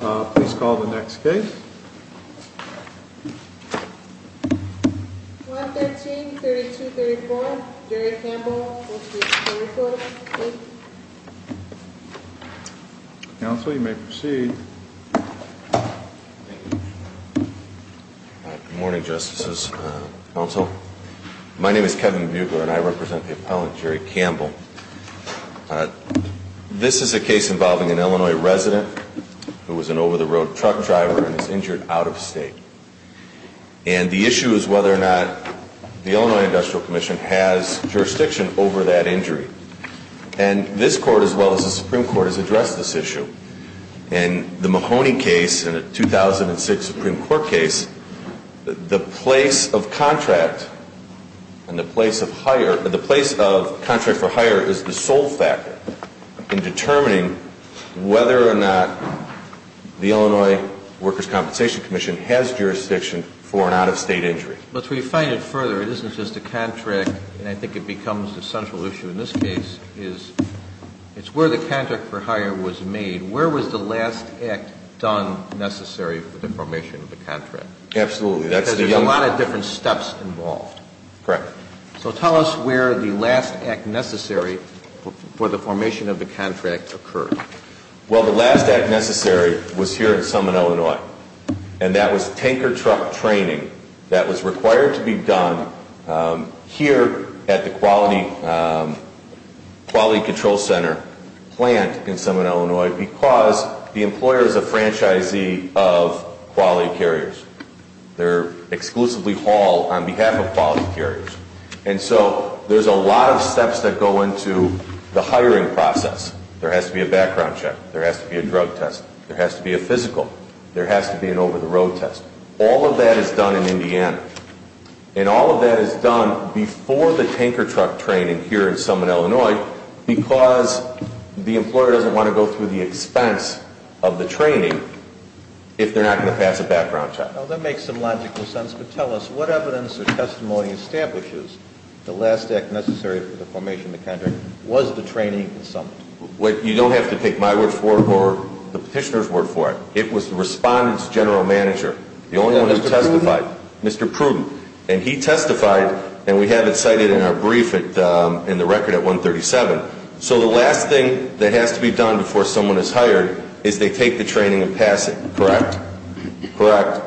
Please call the next case. 113-3234, Jerry Campbell v. Buckler, Inc. Counsel, you may proceed. Good morning, Justices. Counsel, my name is Kevin Bucker, and I represent the appellant, Jerry Campbell. This is a case involving an Illinois resident who was an over-the-road truck driver and is injured out-of-state. And the issue is whether or not the Illinois Industrial Commission has jurisdiction over that injury. And this Court, as well as the Supreme Court, has addressed this issue. In the Mahoney case and the 2006 Supreme Court case, the place of contract for hire is the sole factor in determining whether or not the Illinois Workers' Compensation Commission has jurisdiction for an out-of-state injury. But to refine it further, it isn't just the contract, and I think it becomes the central issue in this case, is it's where the contract for hire was made. Where was the last act done necessary for the formation of the contract? Absolutely. Because there's a lot of different steps involved. Correct. So tell us where the last act necessary for the formation of the contract occurred. Well, the last act necessary was here in Summit, Illinois. And that was tanker truck training that was required to be done here at the Quality Control Center plant in Summit, Illinois, because the employer is a franchisee of quality carriers. They're exclusively hauled on behalf of quality carriers. And so there's a lot of steps that go into the hiring process. There has to be a background check. There has to be a drug test. There has to be a physical. There has to be an over-the-road test. All of that is done in Indiana. And all of that is done before the tanker truck training here in Summit, Illinois, because the employer doesn't want to go through the expense of the training if they're not going to pass a background check. Now, that makes some logical sense. But tell us what evidence or testimony establishes the last act necessary for the formation of the contract was the training in Summit? You don't have to take my word for it or the petitioner's word for it. It was the respondent's general manager, the only one who testified. Mr. Pruden? Mr. Pruden. And he testified, and we have it cited in our brief in the record at 137. So the last thing that has to be done before someone is hired is they take the training and pass it, correct? Correct.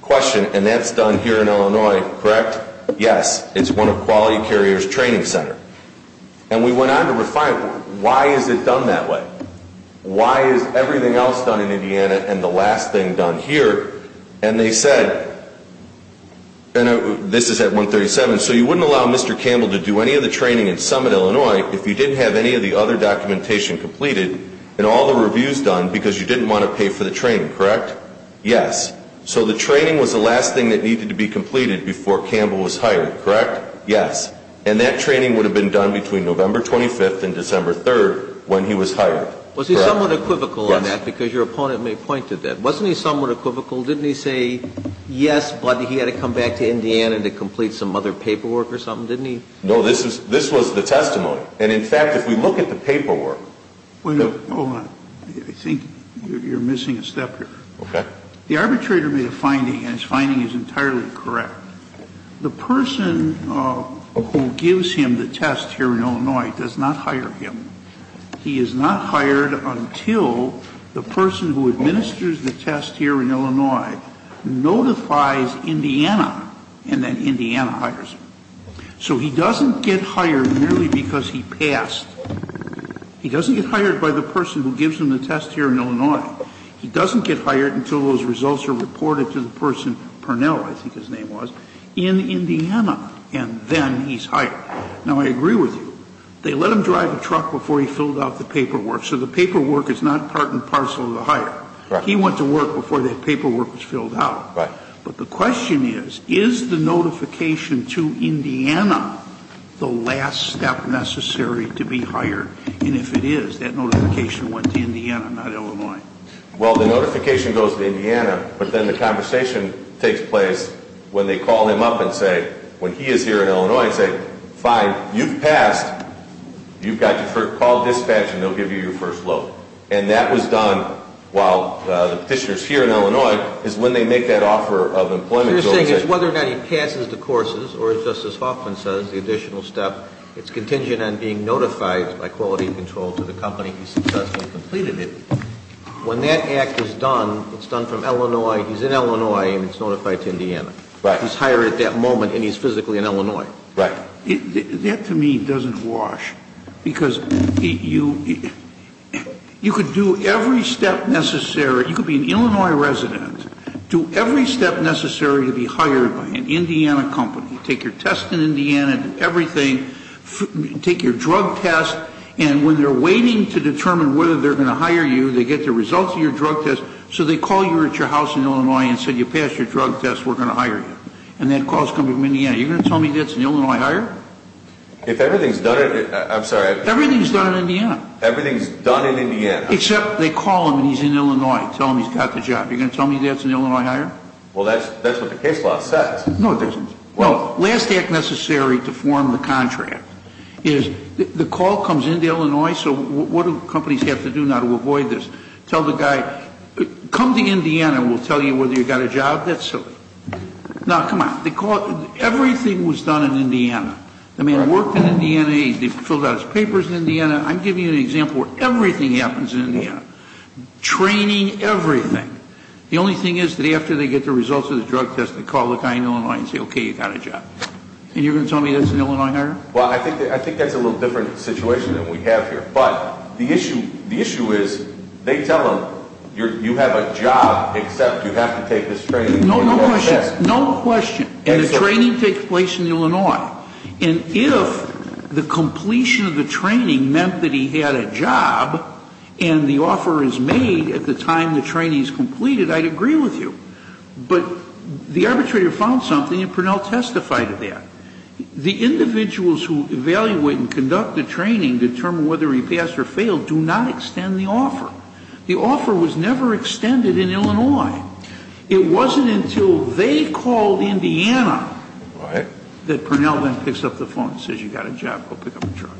Question, and that's done here in Illinois, correct? Yes. It's one of Quality Carrier's training centers. And we went on to refine it. Why is it done that way? Why is everything else done in Indiana and the last thing done here? And they said, and this is at 137, so you wouldn't allow Mr. Campbell to do any of the training in Summit, Illinois, if you didn't have any of the other documentation completed and all the reviews done because you didn't want to pay for the training, correct? Yes. So the training was the last thing that needed to be completed before Campbell was hired, correct? Yes. And that training would have been done between November 25th and December 3rd when he was hired, correct? Was he somewhat equivocal on that? Yes. Because your opponent may point to that. Wasn't he somewhat equivocal? Didn't he say, yes, but he had to come back to Indiana to complete some other paperwork or something? Didn't he? No, this was the testimony. And, in fact, if we look at the paperwork. Wait a minute. Hold on. I think you're missing a step here. Okay. The arbitrator made a finding, and his finding is entirely correct. The person who gives him the test here in Illinois does not hire him. He is not hired until the person who administers the test here in Illinois notifies Indiana and then Indiana hires him. So he doesn't get hired merely because he passed. He doesn't get hired by the person who gives him the test here in Illinois. He doesn't get hired until those results are reported to the person, Purnell I think his name was, in Indiana, and then he's hired. Now, I agree with you. They let him drive a truck before he filled out the paperwork, so the paperwork is not part and parcel of the hire. He went to work before that paperwork was filled out. Right. But the question is, is the notification to Indiana the last step necessary to be hired? And if it is, that notification went to Indiana, not Illinois. Well, the notification goes to Indiana, but then the conversation takes place when they call him up and say, when he is here in Illinois, and say, fine, you've passed. You've got your first call dispatched, and they'll give you your first load. And that was done while the petitioner is here in Illinois is when they make that offer of employment. So you're saying it's whether or not he passes the courses or, as Justice Hoffman says, the additional step, it's contingent on being notified by quality control to the company he successfully completed it. When that act is done, it's done from Illinois, he's in Illinois, and it's notified to Indiana. Right. He's hired at that moment, and he's physically in Illinois. Right. That, to me, doesn't wash, because you could do every step necessary. You could be an Illinois resident, do every step necessary to be hired by an Indiana company, take your test in Indiana, do everything, take your drug test, and when they're waiting to determine whether they're going to hire you, they get the results of your drug test, so they call you at your house in Illinois and say, you passed your drug test, we're going to hire you. And that call is coming from Indiana. Are you going to tell me that's an Illinois hire? If everything's done in – I'm sorry. Everything's done in Indiana. Everything's done in Indiana. Except they call him and he's in Illinois and tell him he's got the job. Are you going to tell me that's an Illinois hire? Well, that's what the case law says. No, it doesn't. Well, last act necessary to form the contract is the call comes in to Illinois, so what do companies have to do now to avoid this? Tell the guy, come to Indiana, we'll tell you whether you've got a job. That's silly. No, come on. Everything was done in Indiana. The man worked in Indiana, he filled out his papers in Indiana. I'm giving you an example where everything happens in Indiana. Training, everything. The only thing is that after they get the results of the drug test, they call the guy in Illinois and say, okay, you've got a job. And you're going to tell me that's an Illinois hire? Well, I think that's a little different situation than we have here, but the issue is they tell them you have a job except you have to take this training. No question. No question. And the training takes place in Illinois. And if the completion of the training meant that he had a job and the offer is made at the time the training is completed, I'd agree with you. But the arbitrator found something, and Purnell testified to that. The individuals who evaluate and conduct the training determine whether he passed or failed do not extend the offer. The offer was never extended in Illinois. It wasn't until they called Indiana that Purnell then picks up the phone and says, you've got a job, go pick up a drug.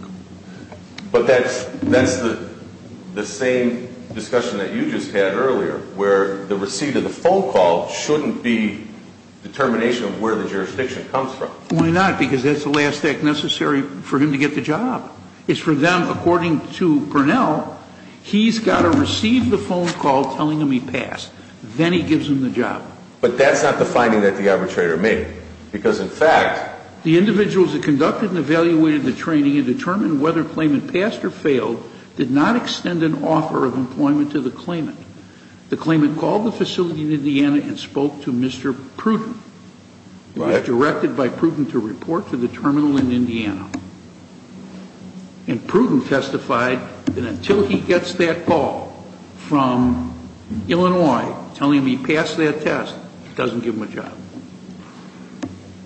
But that's the same discussion that you just had earlier, where the receipt of the phone call shouldn't be determination of where the jurisdiction comes from. Why not? Because that's the last act necessary for him to get the job. It's for them, according to Purnell, he's got to receive the phone call telling him he passed. Then he gives him the job. But that's not the finding that the arbitrator made. Because, in fact, the individuals that conducted and evaluated the training and determined whether Klayman passed or failed did not extend an offer of employment to the Klayman. The Klayman called the facility in Indiana and spoke to Mr. Pruden. He was directed by Pruden to report to the terminal in Indiana. And Pruden testified that until he gets that call from Illinois telling him he passed that test, it doesn't give him a job.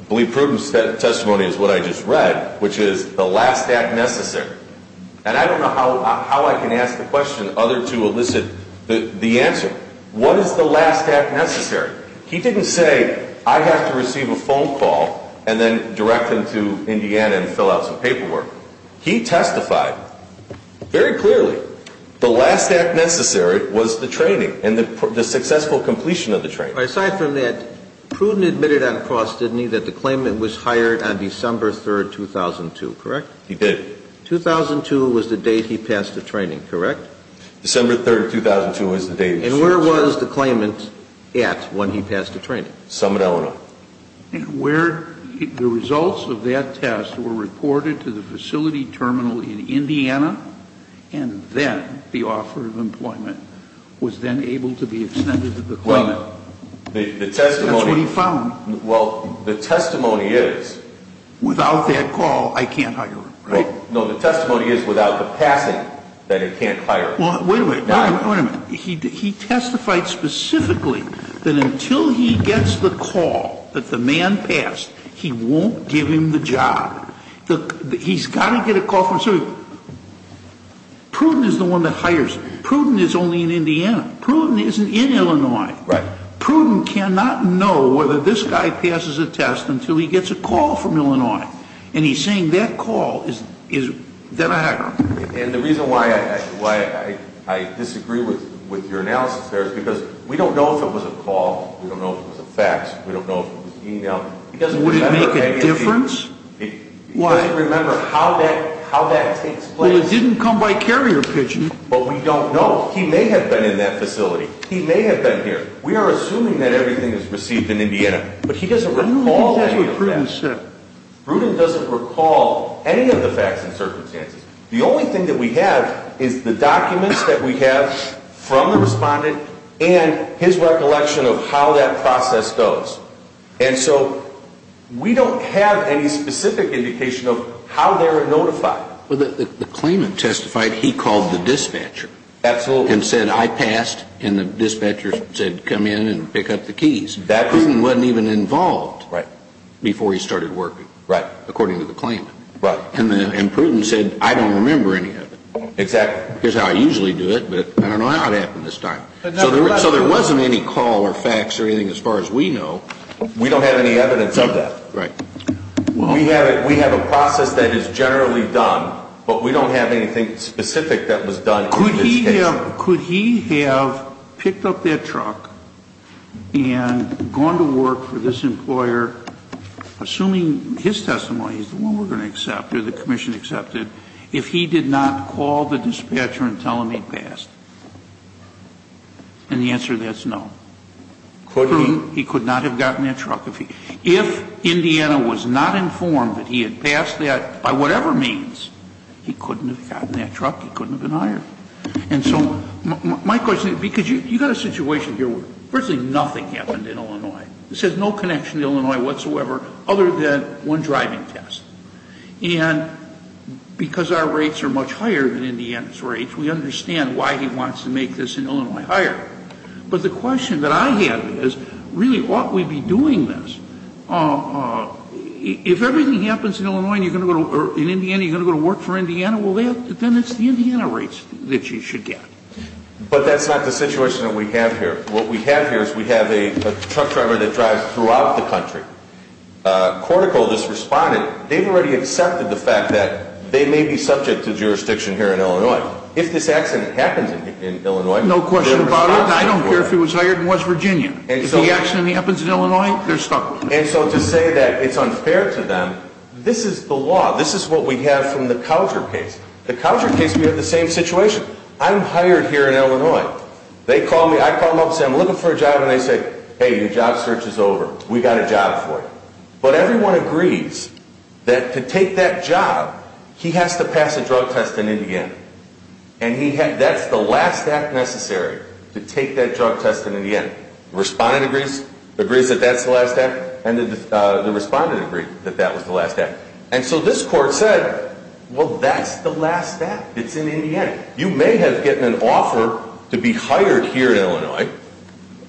I believe Pruden's testimony is what I just read, which is the last act necessary. And I don't know how I can ask the question other to elicit the answer. What is the last act necessary? He didn't say, I have to receive a phone call and then direct them to Indiana and fill out some paperwork. He testified very clearly the last act necessary was the training and the successful completion of the training. Aside from that, Pruden admitted on cross, didn't he, that the Klayman was hired on December 3, 2002, correct? He did. 2002 was the date he passed the training, correct? December 3, 2002 was the date. And where was the Klayman at when he passed the training? Summit, Illinois. And where the results of that test were reported to the facility terminal in Indiana, and then the offer of employment was then able to be extended to the Klayman. Well, the testimony. That's what he found. Well, the testimony is. Without that call, I can't hire him, right? No, the testimony is without the passing that it can't hire him. Well, wait a minute. Wait a minute. He testified specifically that until he gets the call that the man passed, he won't give him the job. He's got to get a call from somebody. Pruden is the one that hires. Pruden is only in Indiana. Pruden isn't in Illinois. Right. Pruden cannot know whether this guy passes a test until he gets a call from Illinois. And he's saying that call is then a hacker. And the reason why I disagree with your analysis there is because we don't know if it was a call. We don't know if it was a fax. We don't know if it was an email. Would it make a difference? He doesn't remember how that takes place. Well, it didn't come by carrier pigeon. But we don't know. He may have been in that facility. He may have been here. We are assuming that everything is received in Indiana, but he doesn't recall any of that. I don't think that's what Pruden said. Pruden doesn't recall any of the fax and circumstances. The only thing that we have is the documents that we have from the respondent and his recollection of how that process goes. And so we don't have any specific indication of how they were notified. The claimant testified he called the dispatcher. Absolutely. And said, I passed. And the dispatcher said, come in and pick up the keys. Pruden wasn't even involved before he started working, according to the claimant. Right. And Pruden said, I don't remember any of it. Exactly. Here's how I usually do it, but I don't know how it happened this time. So there wasn't any call or fax or anything as far as we know. We don't have any evidence of that. Right. We have a process that is generally done, but we don't have anything specific that was done in this case. So could he have picked up that truck and gone to work for this employer, assuming his testimony is the one we're going to accept or the commission accepted, if he did not call the dispatcher and tell them he passed? And the answer to that is no. Could he? He could not have gotten that truck. If Indiana was not informed that he had passed that, by whatever means, he couldn't have gotten that truck, he couldn't have been hired. And so my question is, because you've got a situation here where virtually nothing happened in Illinois. This has no connection to Illinois whatsoever other than one driving test. And because our rates are much higher than Indiana's rates, we understand why he wants to make this in Illinois higher. But the question that I have is, really, ought we be doing this? If everything happens in Illinois and you're going to go to or in Indiana, you're going to go to work for Indiana, well, then it's the Indiana rates that you should get. But that's not the situation that we have here. What we have here is we have a truck driver that drives throughout the country. Cortico just responded. They've already accepted the fact that they may be subject to jurisdiction here in Illinois. If this accident happens in Illinois, they're stuck. No question about it. I don't care if he was hired and was Virginia. If the accident happens in Illinois, they're stuck. And so to say that it's unfair to them, this is the law. This is what we have from the Coucher case. The Coucher case, we have the same situation. I'm hired here in Illinois. They call me. I call them up and say, I'm looking for a job. And they say, hey, your job search is over. We got a job for you. But everyone agrees that to take that job, he has to pass a drug test in Indiana. And that's the last act necessary to take that drug test in Indiana. Respondent agrees. Agrees that that's the last act. And the respondent agreed that that was the last act. And so this court said, well, that's the last act. It's in Indiana. You may have gotten an offer to be hired here in Illinois,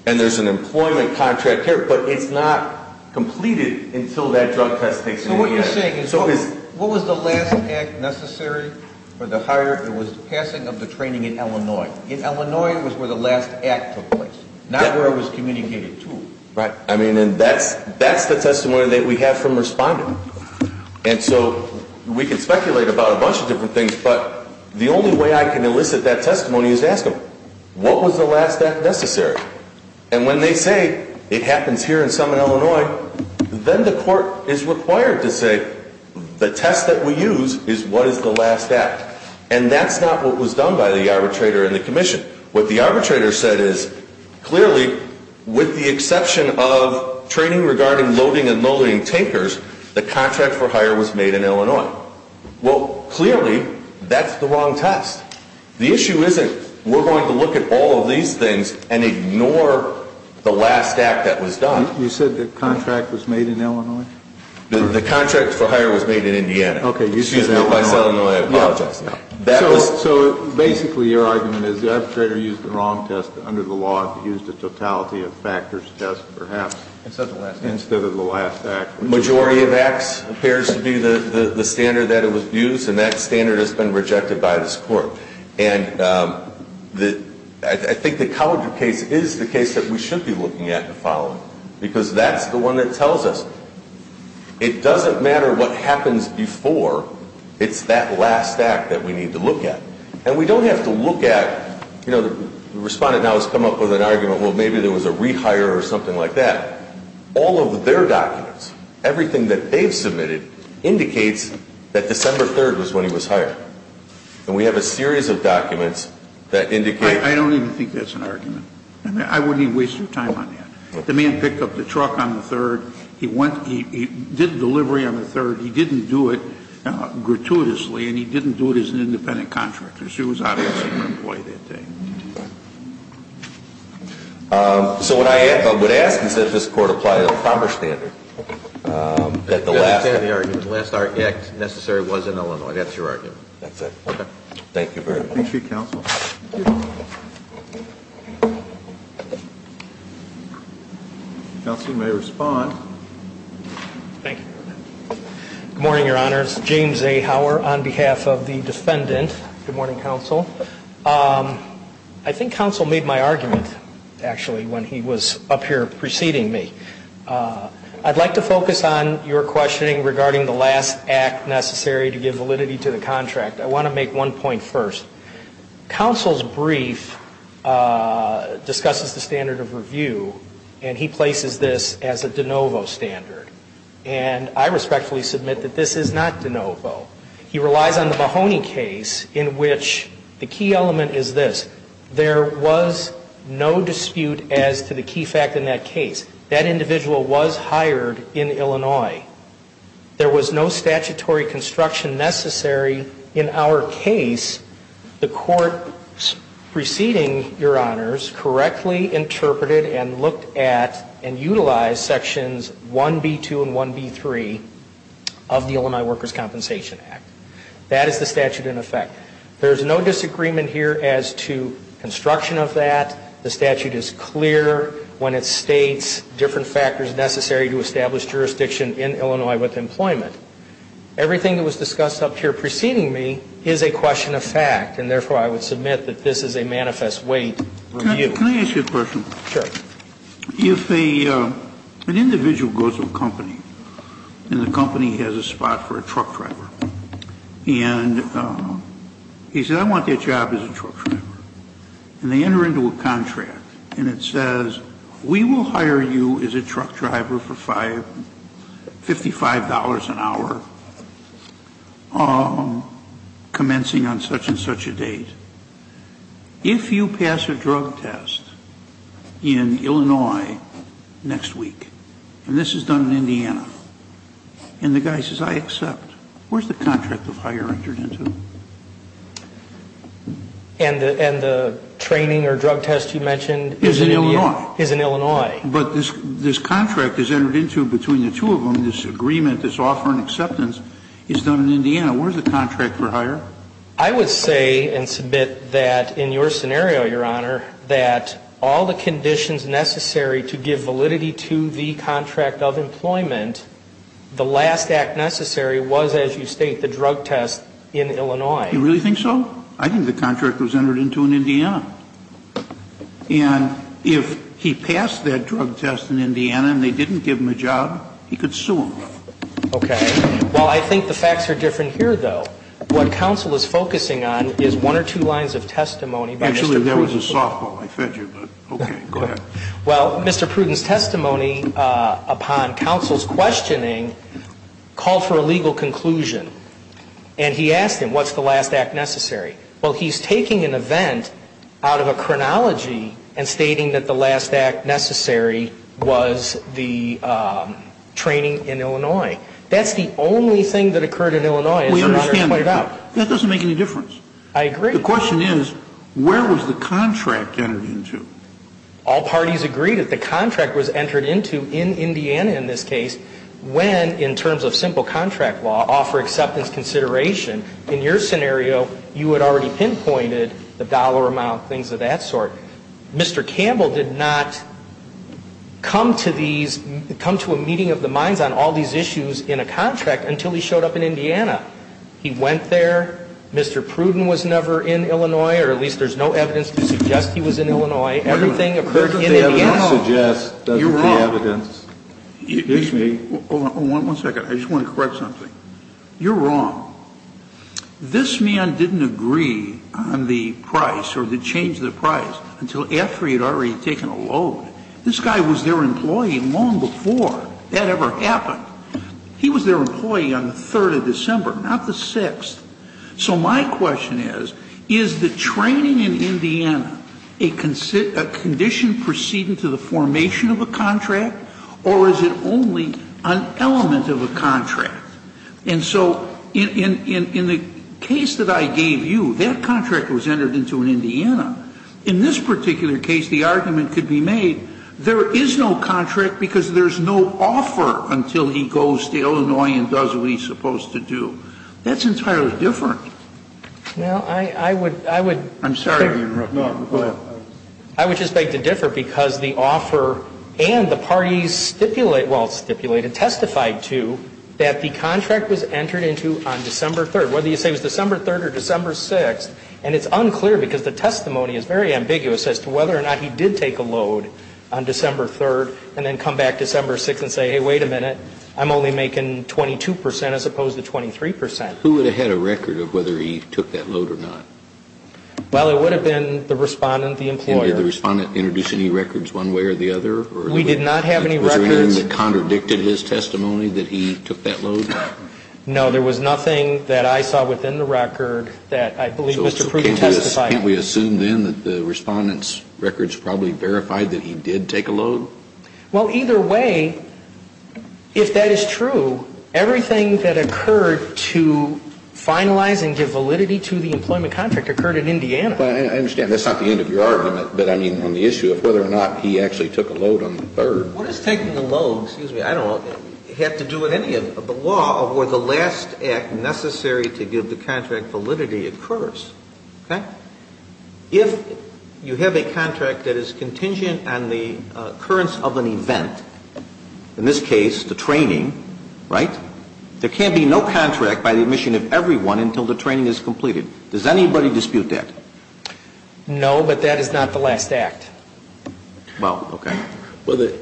and there's an employment contract here, but it's not completed until that drug test takes place in Indiana. So what you're saying is, what was the last act necessary for the hire? It was passing of the training in Illinois. In Illinois, it was where the last act took place, not where it was communicated to. Right. I mean, and that's the testimony that we have from respondent. And so we can speculate about a bunch of different things, but the only way I can elicit that testimony is to ask them, what was the last act necessary? And when they say it happens here and some in Illinois, then the court is required to say the test that we use is what is the last act. And that's not what was done by the arbitrator and the commission. What the arbitrator said is, clearly, with the exception of training regarding loading and loading tankers, the contract for hire was made in Illinois. Well, clearly, that's the wrong test. The issue isn't, we're going to look at all of these things and ignore the last act that was done. You said the contract was made in Illinois? The contract for hire was made in Indiana. Okay, you said in Illinois. Excuse me, if I said Illinois, I apologize. So basically, your argument is the arbitrator used the wrong test under the law and used a totality of factors test, perhaps, instead of the last act. The majority of acts appears to be the standard that it was used, and that standard has been rejected by this court. And I think the Cowardly case is the case that we should be looking at and following, because that's the one that tells us it doesn't matter what happens before, it's that last act that we need to look at. And we don't have to look at, you know, the respondent now has come up with an argument, well, maybe there was a rehire or something like that. All of their documents, everything that they've submitted, indicates that December 3rd was when he was hired. And we have a series of documents that indicate. I don't even think that's an argument. I wouldn't even waste your time on that. The man picked up the truck on the 3rd. He did the delivery on the 3rd. He didn't do it gratuitously, and he didn't do it as an independent contractor. He was out answering an employee that day. So what I would ask is that this court apply a proper standard. The last act necessary was in Illinois. That's your argument. That's it. Thank you very much. Thank you, counsel. Counsel may respond. Thank you. Good morning, Your Honors. James A. Hauer on behalf of the defendant. Good morning, counsel. I think counsel made my argument, actually, when he was up here preceding me. I'd like to focus on your questioning regarding the last act necessary to give validity to the contract. I want to make one point first. Counsel's brief discusses the standard of review, and he places this as a de novo standard. And I respectfully submit that this is not de novo. He relies on the Mahoney case in which the key element is this. There was no dispute as to the key fact in that case. That individual was hired in Illinois. There was no statutory construction necessary in our case. The court, preceding Your Honors, correctly interpreted and looked at and utilized sections 1B2 and 1B3 of the Illinois Workers' Compensation Act. That is the statute in effect. There is no disagreement here as to construction of that. The statute is clear when it states different factors necessary to establish jurisdiction in Illinois with employment. Everything that was discussed up here preceding me is a question of fact, and therefore I would submit that this is a manifest weight review. Kennedy, can I ask you a question? Sure. If an individual goes to a company and the company has a spot for a truck driver and he says, I want that job as a truck driver, and they enter into a contract and it says, we will hire you as a truck driver for $55 an hour, commencing on such and such a date. If you pass a drug test in Illinois next week, and this is done in Indiana, and the guy says, I accept, where is the contract of hire entered into? And the training or drug test you mentioned is in Illinois. Is in Illinois. But this contract is entered into between the two of them, this agreement, this offer and acceptance is done in Indiana. Where is the contract for hire? I would say and submit that in your scenario, Your Honor, that all the conditions necessary to give validity to the contract of employment, the last act necessary was, as you state, the drug test in Illinois. You really think so? I think the contract was entered into in Indiana. And if he passed that drug test in Indiana and they didn't give him a job, he could sue them. Okay. Well, I think the facts are different here, though. What counsel is focusing on is one or two lines of testimony by Mr. Pruden. Actually, that was a softball. I fed you. Okay. Go ahead. Well, Mr. Pruden's testimony upon counsel's questioning called for a legal conclusion. And he asked him, what's the last act necessary? Well, he's taking an event out of a chronology and stating that the last act necessary was the training in Illinois. That's the only thing that occurred in Illinois. We understand that. That doesn't make any difference. I agree. The question is, where was the contract entered into? All parties agreed that the contract was entered into in Indiana in this case when, in terms of simple contract law, offer acceptance consideration. In your scenario, you had already pinpointed the dollar amount, things of that sort. Mr. Campbell did not come to a meeting of the minds on all these issues in a contract until he showed up in Indiana. He went there. Mr. Pruden was never in Illinois, or at least there's no evidence to suggest he was in Illinois. Everything occurred in Indiana. That's what the evidence suggests. You're wrong. That's what the evidence gives me. One second. I just want to correct something. You're wrong. This man didn't agree on the price or the change of the price until after he had already taken a load. This guy was their employee long before that ever happened. He was their employee on the 3rd of December, not the 6th. So my question is, is the training in Indiana a condition proceeding to the formation of a contract, or is it only an element of a contract? And so in the case that I gave you, that contract was entered into in Indiana. In this particular case, the argument could be made there is no contract because there's no offer until he goes to Illinois and does what he's supposed to do. That's entirely different. Well, I would, I would. I'm sorry to interrupt. No, go ahead. I would just beg to differ because the offer and the parties stipulate, well, stipulated, testified to that the contract was entered into on December 3rd. Whether you say it was December 3rd or December 6th, and it's unclear because the testimony is very ambiguous as to whether or not he did take a load on December 3rd and then come back December 6th and say, hey, wait a minute. I'm only making 22 percent as opposed to 23 percent. Who would have had a record of whether he took that load or not? Well, it would have been the Respondent, the employer. Did the Respondent introduce any records one way or the other? We did not have any records. Was there anything that contradicted his testimony that he took that load? No, there was nothing that I saw within the record that I believe Mr. Pruden testified to. Can't we assume then that the Respondent's records probably verified that he did take a load? Well, either way, if that is true, everything that occurred to finalize and give validity to the employment contract occurred in Indiana. Well, I understand that's not the end of your argument, but I mean on the issue of whether or not he actually took a load on the 3rd. What does taking a load, excuse me, I don't know, have to do with any of the law of where the last act necessary to give the contract validity occurs, okay? If you have a contract that is contingent on the occurrence of an event, in this case the training, right, there can't be no contract by the admission of everyone until the training is completed. Does anybody dispute that? No, but that is not the last act. Well, okay.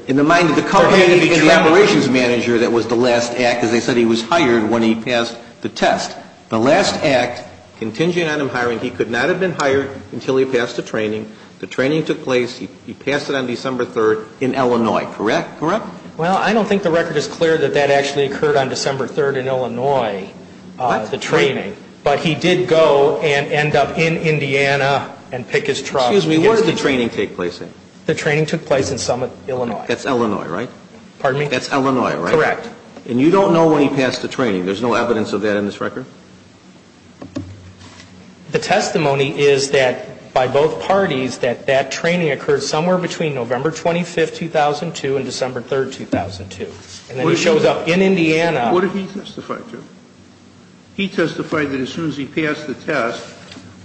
In the mind of the company and the operations manager that was the last act, as I said, he was hired when he passed the test. The last act, contingent on him hiring, he could not have been hired until he passed the training. The training took place, he passed it on December 3rd in Illinois, correct? Well, I don't think the record is clear that that actually occurred on December 3rd in Illinois, the training, but he did go and end up in Indiana and pick his truck. Excuse me, where did the training take place then? The training took place in Summit, Illinois. That's Illinois, right? Pardon me? That's Illinois, right? Correct. And you don't know when he passed the training. There's no evidence of that in this record? The testimony is that by both parties that that training occurred somewhere between November 25th, 2002 and December 3rd, 2002. And then he shows up in Indiana. What did he testify to? He testified that as soon as he passed the test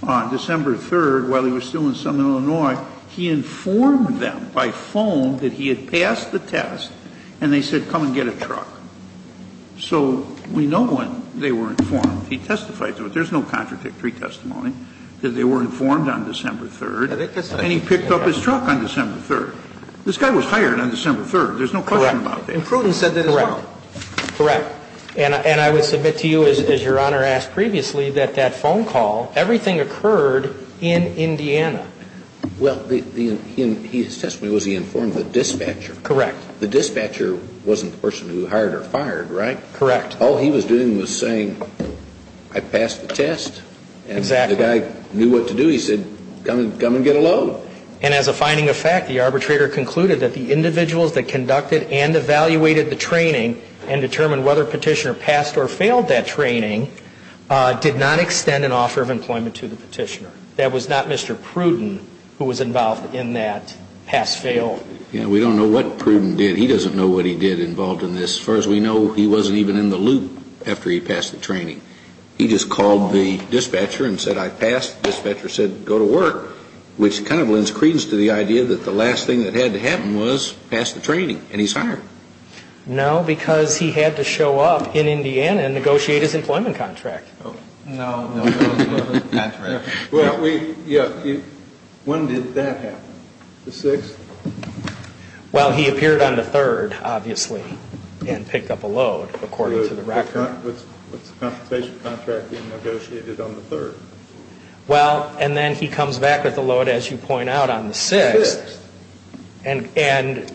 on December 3rd while he was still in Summit, Illinois, he informed them by phone that he had passed the test and they said come and get a truck. So we know when they were informed. He testified to it. There's no contradictory testimony that they were informed on December 3rd. And he picked up his truck on December 3rd. This guy was hired on December 3rd. There's no question about that. Correct. And Pruden said that as well. Correct. And I would submit to you, as Your Honor asked previously, that that phone call, everything occurred in Indiana. Well, his testimony was he informed the dispatcher. Correct. The dispatcher wasn't the person who hired or fired, right? Correct. All he was doing was saying I passed the test. Exactly. And the guy knew what to do. He said come and get a load. And as a finding of fact, the arbitrator concluded that the individuals that conducted and evaluated the training and determined whether Petitioner passed or failed that training did not extend an offer of employment to the Petitioner. That was not Mr. Pruden who was involved in that pass-fail. Yeah, we don't know what Pruden did. He doesn't know what he did involved in this. As far as we know, he wasn't even in the loop after he passed the training. He just called the dispatcher and said I passed. The dispatcher said go to work, which kind of lends credence to the idea that the last thing that had to happen was pass the training, and he's hired. No, because he had to show up in Indiana and negotiate his employment contract. No, no. That's right. When did that happen? The 6th? Well, he appeared on the 3rd, obviously, and picked up a load, according to the record. What's the compensation contract he negotiated on the 3rd? Well, and then he comes back with a load, as you point out, on the 6th. The 6th. And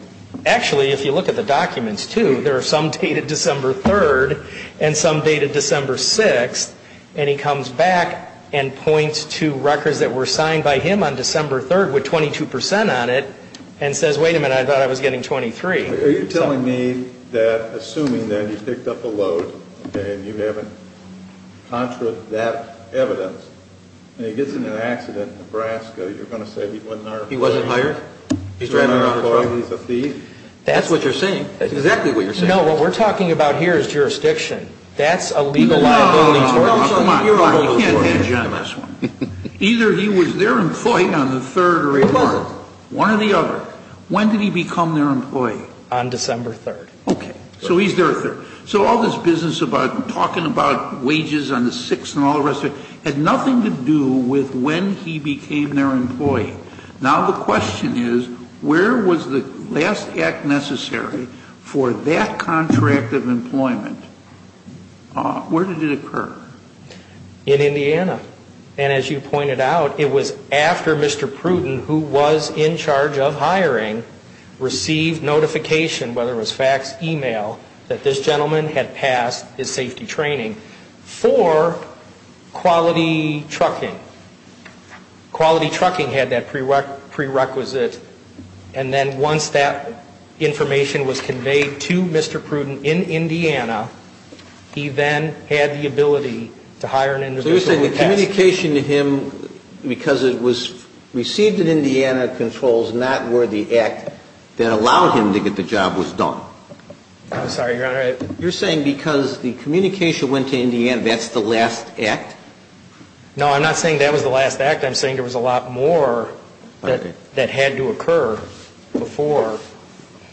actually, if you look at the documents, too, there are some dated December 3rd and some dated December 6th. And he comes back and points to records that were signed by him on December 3rd with 22 percent on it and says, wait a minute, I thought I was getting 23. Are you telling me that assuming that he picked up a load and you have that evidence and he gets in an accident in Nebraska, you're going to say he wasn't hired? He wasn't hired? He's driving a truck? He's a thief? That's what you're saying. That's exactly what you're saying. No, what we're talking about here is jurisdiction. That's a legal liability. Come on. You can't hedge on this one. Either he was their employee on the 3rd or he wasn't. One or the other. When did he become their employee? On December 3rd. Okay. So he's their employee. So all this business about talking about wages on the 6th and all the rest of it had nothing to do with when he became their employee. Now the question is, where was the last act necessary for that contract of employment? Where did it occur? In Indiana. And as you pointed out, it was after Mr. Pruden, who was in charge of hiring, received notification, whether it was fax, e-mail, that this gentleman had passed his safety training for quality trucking. Quality trucking had that prerequisite. And then once that information was conveyed to Mr. Pruden in Indiana, he then had the ability to hire an individual who passed. So you're saying the communication to him, because it was received in Indiana, controls not worthy act that allowed him to get the job was done. I'm sorry, Your Honor. You're saying because the communication went to Indiana, that's the last act? No, I'm not saying that was the last act. I'm saying there was a lot more that had to occur before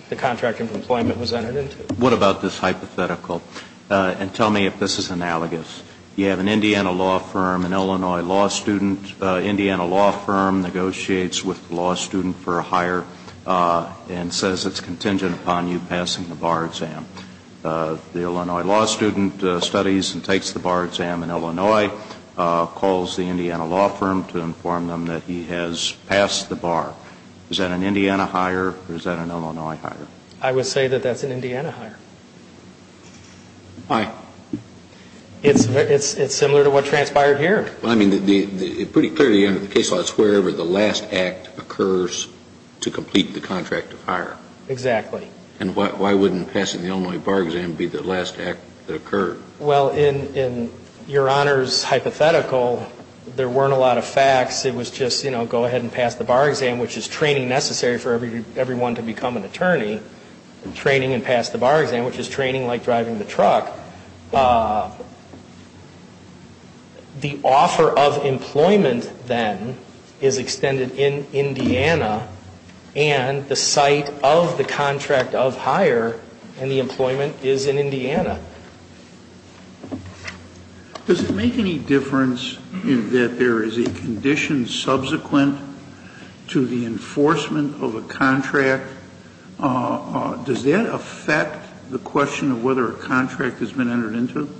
the contract of employment was entered into. What about this hypothetical? And tell me if this is analogous. You have an Indiana law firm, an Illinois law student. Indiana law firm negotiates with the law student for a hire and says it's contingent upon you passing the bar exam. The Illinois law student studies and takes the bar exam in Illinois, calls the Indiana law firm to inform them that he has passed the bar. Is that an Indiana hire or is that an Illinois hire? I would say that that's an Indiana hire. Why? It's similar to what transpired here. Well, I mean, pretty clearly under the case law, it's wherever the last act occurs to complete the contract of hire. Exactly. And why wouldn't passing the Illinois bar exam be the last act that occurred? Well, in Your Honor's hypothetical, there weren't a lot of facts. It was just, you know, go ahead and pass the bar exam, which is training necessary for everyone to become an attorney, training and pass the bar exam, which is training like driving the truck. The offer of employment, then, is extended in Indiana and the site of the contract of hire and the employment is in Indiana. Does it make any difference in that there is a condition subsequent to the enforcement of a contract? Does that affect the question of whether a contract has been entered into?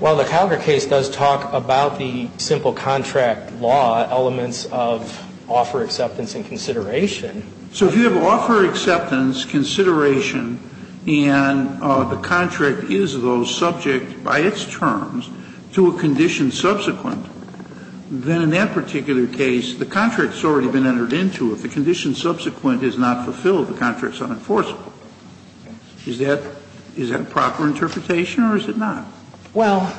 Well, the Calgar case does talk about the simple contract law elements of offer acceptance and consideration. So if you have offer acceptance, consideration, and the contract is, though, subject by its terms to a condition subsequent, then in that particular case, the contract has already been entered into. If the condition subsequent is not fulfilled, the contract is unenforceable. Is that a proper interpretation or is it not? Well,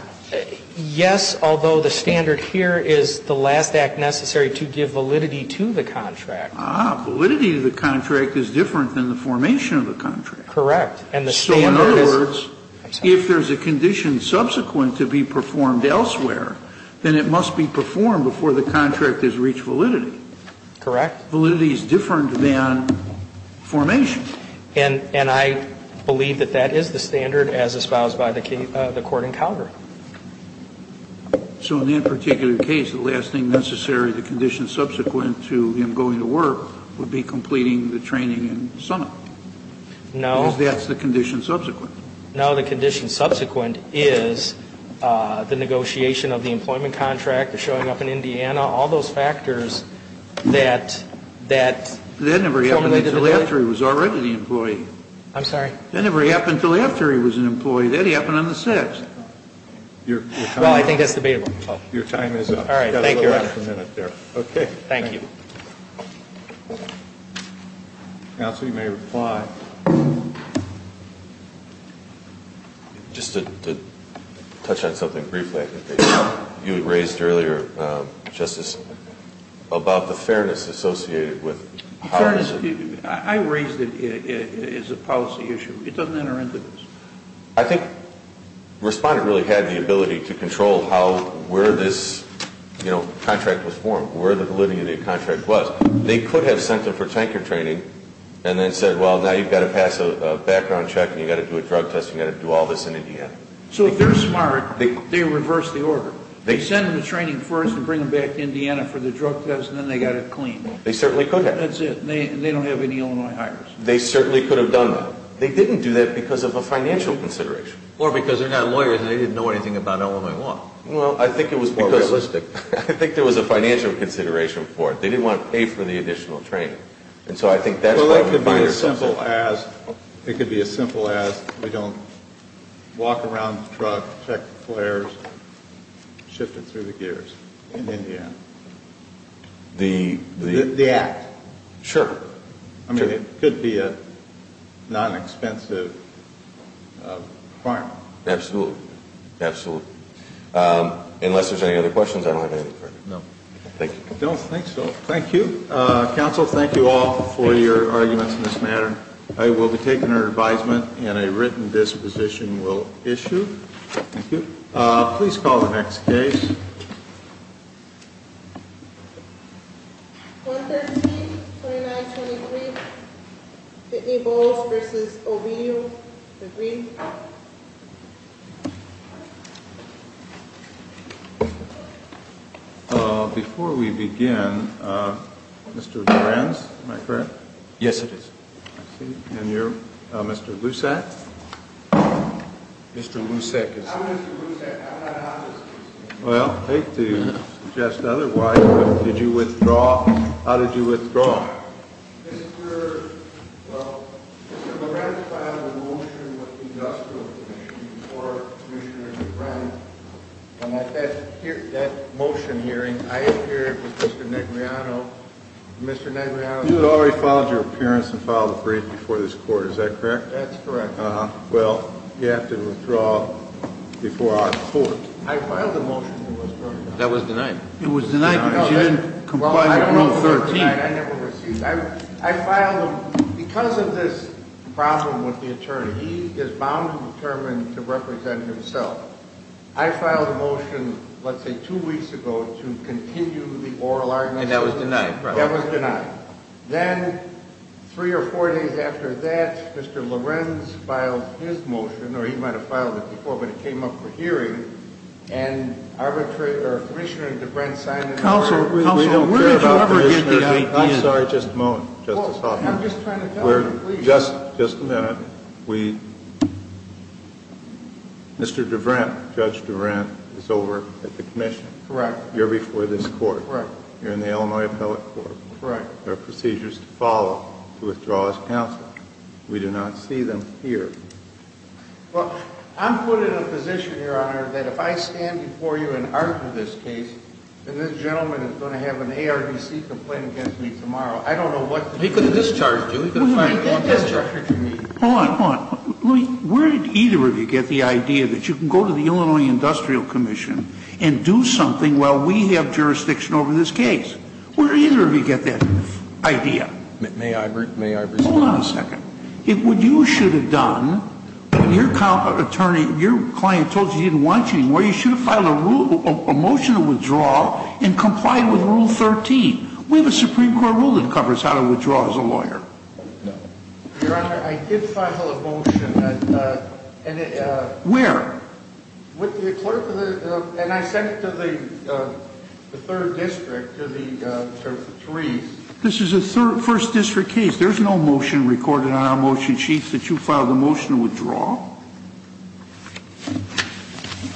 yes, although the standard here is the last act necessary to give validity to the contract. Ah. Validity of the contract is different than the formation of the contract. Correct. So in other words, if there is a condition subsequent to be performed elsewhere, then it must be performed before the contract has reached validity. Correct. Validity is different than formation. And I believe that that is the standard as espoused by the court in Calgar. So in that particular case, the last thing necessary, the condition subsequent to him going to work would be completing the training in Summit. No. Because that's the condition subsequent. No, the condition subsequent is the negotiation of the employment contract, the showing up in Indiana, all those factors that form the validity. That never happened until after he was already the employee. I'm sorry? That never happened until after he was an employee. That happened on the 6th. Well, I think that's debatable. Your time is up. All right. Thank you. Okay. Thank you. Counsel, you may reply. Just to touch on something briefly, I think you had raised earlier, Justice, about the fairness associated with policy. Fairness. I raised it as a policy issue. It doesn't enter into this. I think Respondent really had the ability to control where this contract was formed, where the validity of the contract was. They could have sent him for tanker training and then said, well, now you've got to pass a background check and you've got to do a drug test and you've got to do all this in Indiana. So if they're smart, they reverse the order. They send him to training first and bring him back to Indiana for the drug test and then they've got it cleaned. They certainly could have. That's it. They don't have any Illinois hires. They certainly could have done that. They didn't do that because of a financial consideration. Or because they're not lawyers and they didn't know anything about Illinois law. Well, I think it was more realistic. I think there was a financial consideration for it. They didn't want to pay for the additional training. Well, it could be as simple as we don't walk around the truck, check the flares, shift it through the gears in Indiana. The act. Sure. I mean, it could be a non-expensive requirement. Absolutely. Absolutely. Unless there's any other questions, I don't have any further. No. Thank you. I don't think so. Thank you. Counsel, thank you all for your arguments in this matter. I will be taking your advisement and a written disposition will issue. Thank you. Please call the next case. 113-2923. Whitney Bowles v. O'Neill. Agreed. Before we begin, Mr. Lorenz, am I correct? Yes, it is. I see. And you're Mr. Lusak? Mr. Lusak is. I'm Mr. Lusak. I'm not an honest person. Well, I hate to suggest otherwise, but did you withdraw? How did you withdraw? Mr. Lorenz filed a motion with the industrial commission before Commissioner DeBrenn. And at that motion hearing, I appeared with Mr. Negriano. Mr. Negriano. You had already filed your appearance and filed a brief before this court. Is that correct? That's correct. Well, you have to withdraw before our court. I filed a motion. That was denied. It was denied because you didn't comply with rule 13. I filed them because of this problem with the attorney. He is bound and determined to represent himself. I filed a motion, let's say two weeks ago, to continue the oral argument. And that was denied. That was denied. Then three or four days after that, Mr. Lorenz filed his motion, or he might have filed it before, but it came up for hearing. And Commissioner DeBrenn signed it. Counsel, we don't care about Commissioner DeBrenn. I'm sorry, just a moment, Justice Hoffman. I'm just trying to tell you, please. Just a minute. Mr. DeBrenn, Judge DeBrenn, is over at the commission. Correct. You're before this court. Correct. You're in the Illinois Appellate Court. Correct. There are procedures to follow to withdraw as counsel. We do not see them here. Well, I'm put in a position, Your Honor, that if I stand before you and argue this case, then this gentleman is going to have an ARDC complaint against me tomorrow. I don't know what to do. He could have discharged you. Hold on. Hold on. Where did either of you get the idea that you can go to the Illinois Industrial Commission and do something while we have jurisdiction over this case? Where did either of you get that idea? May I respond? Hold on a second. If what you should have done, when your client told you he didn't want you anymore, you should have filed a motion to withdraw and complied with Rule 13. We have a Supreme Court rule that covers how to withdraw as a lawyer. Your Honor, I did file a motion. Where? With the clerk, and I sent it to the third district, to Therese. This is a first district case. There's no motion recorded on our motion sheets that you filed a motion to withdraw.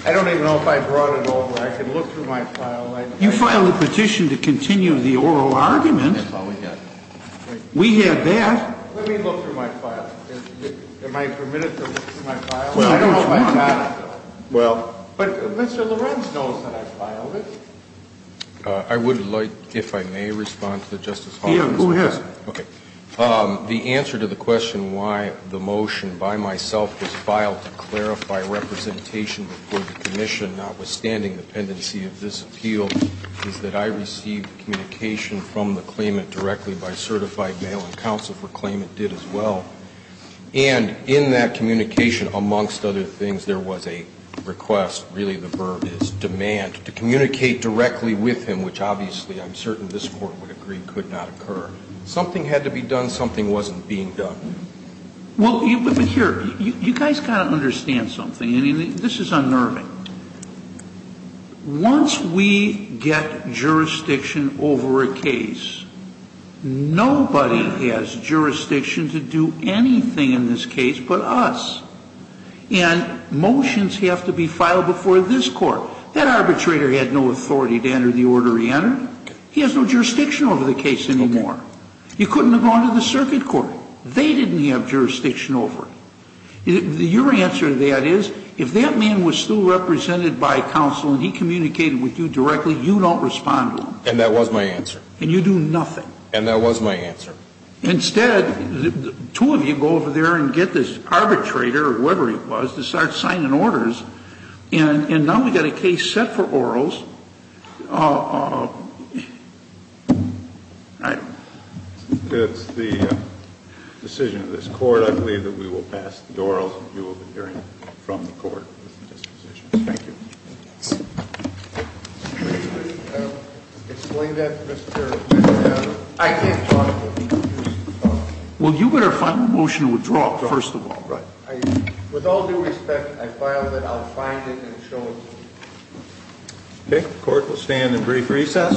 I don't even know if I brought it over. I can look through my file. You filed a petition to continue the oral argument. We had that. Let me look through my file. Am I permitted to look through my file? I don't know if I got it. Well. But Mr. Lorenz knows that I filed it. I would like, if I may, respond to the Justice Hall. Yeah, go ahead. Okay. The answer to the question why the motion by myself was filed to clarify representation before the commission, notwithstanding the pendency of this appeal, is that I received communication from the claimant directly by certified mail and counsel for a claim it did as well, and in that communication, amongst other things, there was a request, really the verb is demand, to communicate directly with him, which obviously I'm certain this Court would agree could not occur. Something had to be done. Something wasn't being done. Well, but here, you guys got to understand something. I mean, this is unnerving. Once we get jurisdiction over a case, nobody has jurisdiction to do anything in this case but us. And motions have to be filed before this Court. That arbitrator had no authority to enter the order he entered. He has no jurisdiction over the case anymore. Okay. You couldn't have gone to the circuit court. They didn't have jurisdiction over it. Your answer to that is, if that man was still represented by counsel and he communicated with you directly, you don't respond to him. And that was my answer. And you do nothing. And that was my answer. Instead, two of you go over there and get this arbitrator or whoever it was to start And now we've got a case set for orals. I don't know. It's the decision of this Court. I believe that we will pass the orals. You will be hearing from the Court with the dispositions. Thank you. Explain that to Mr. McNamara. I can't talk to him. Well, you better find a motion to withdraw, first of all. Right. With all due respect, I filed it. I'll find it and show it to you. Okay. The Court will stand in brief recess.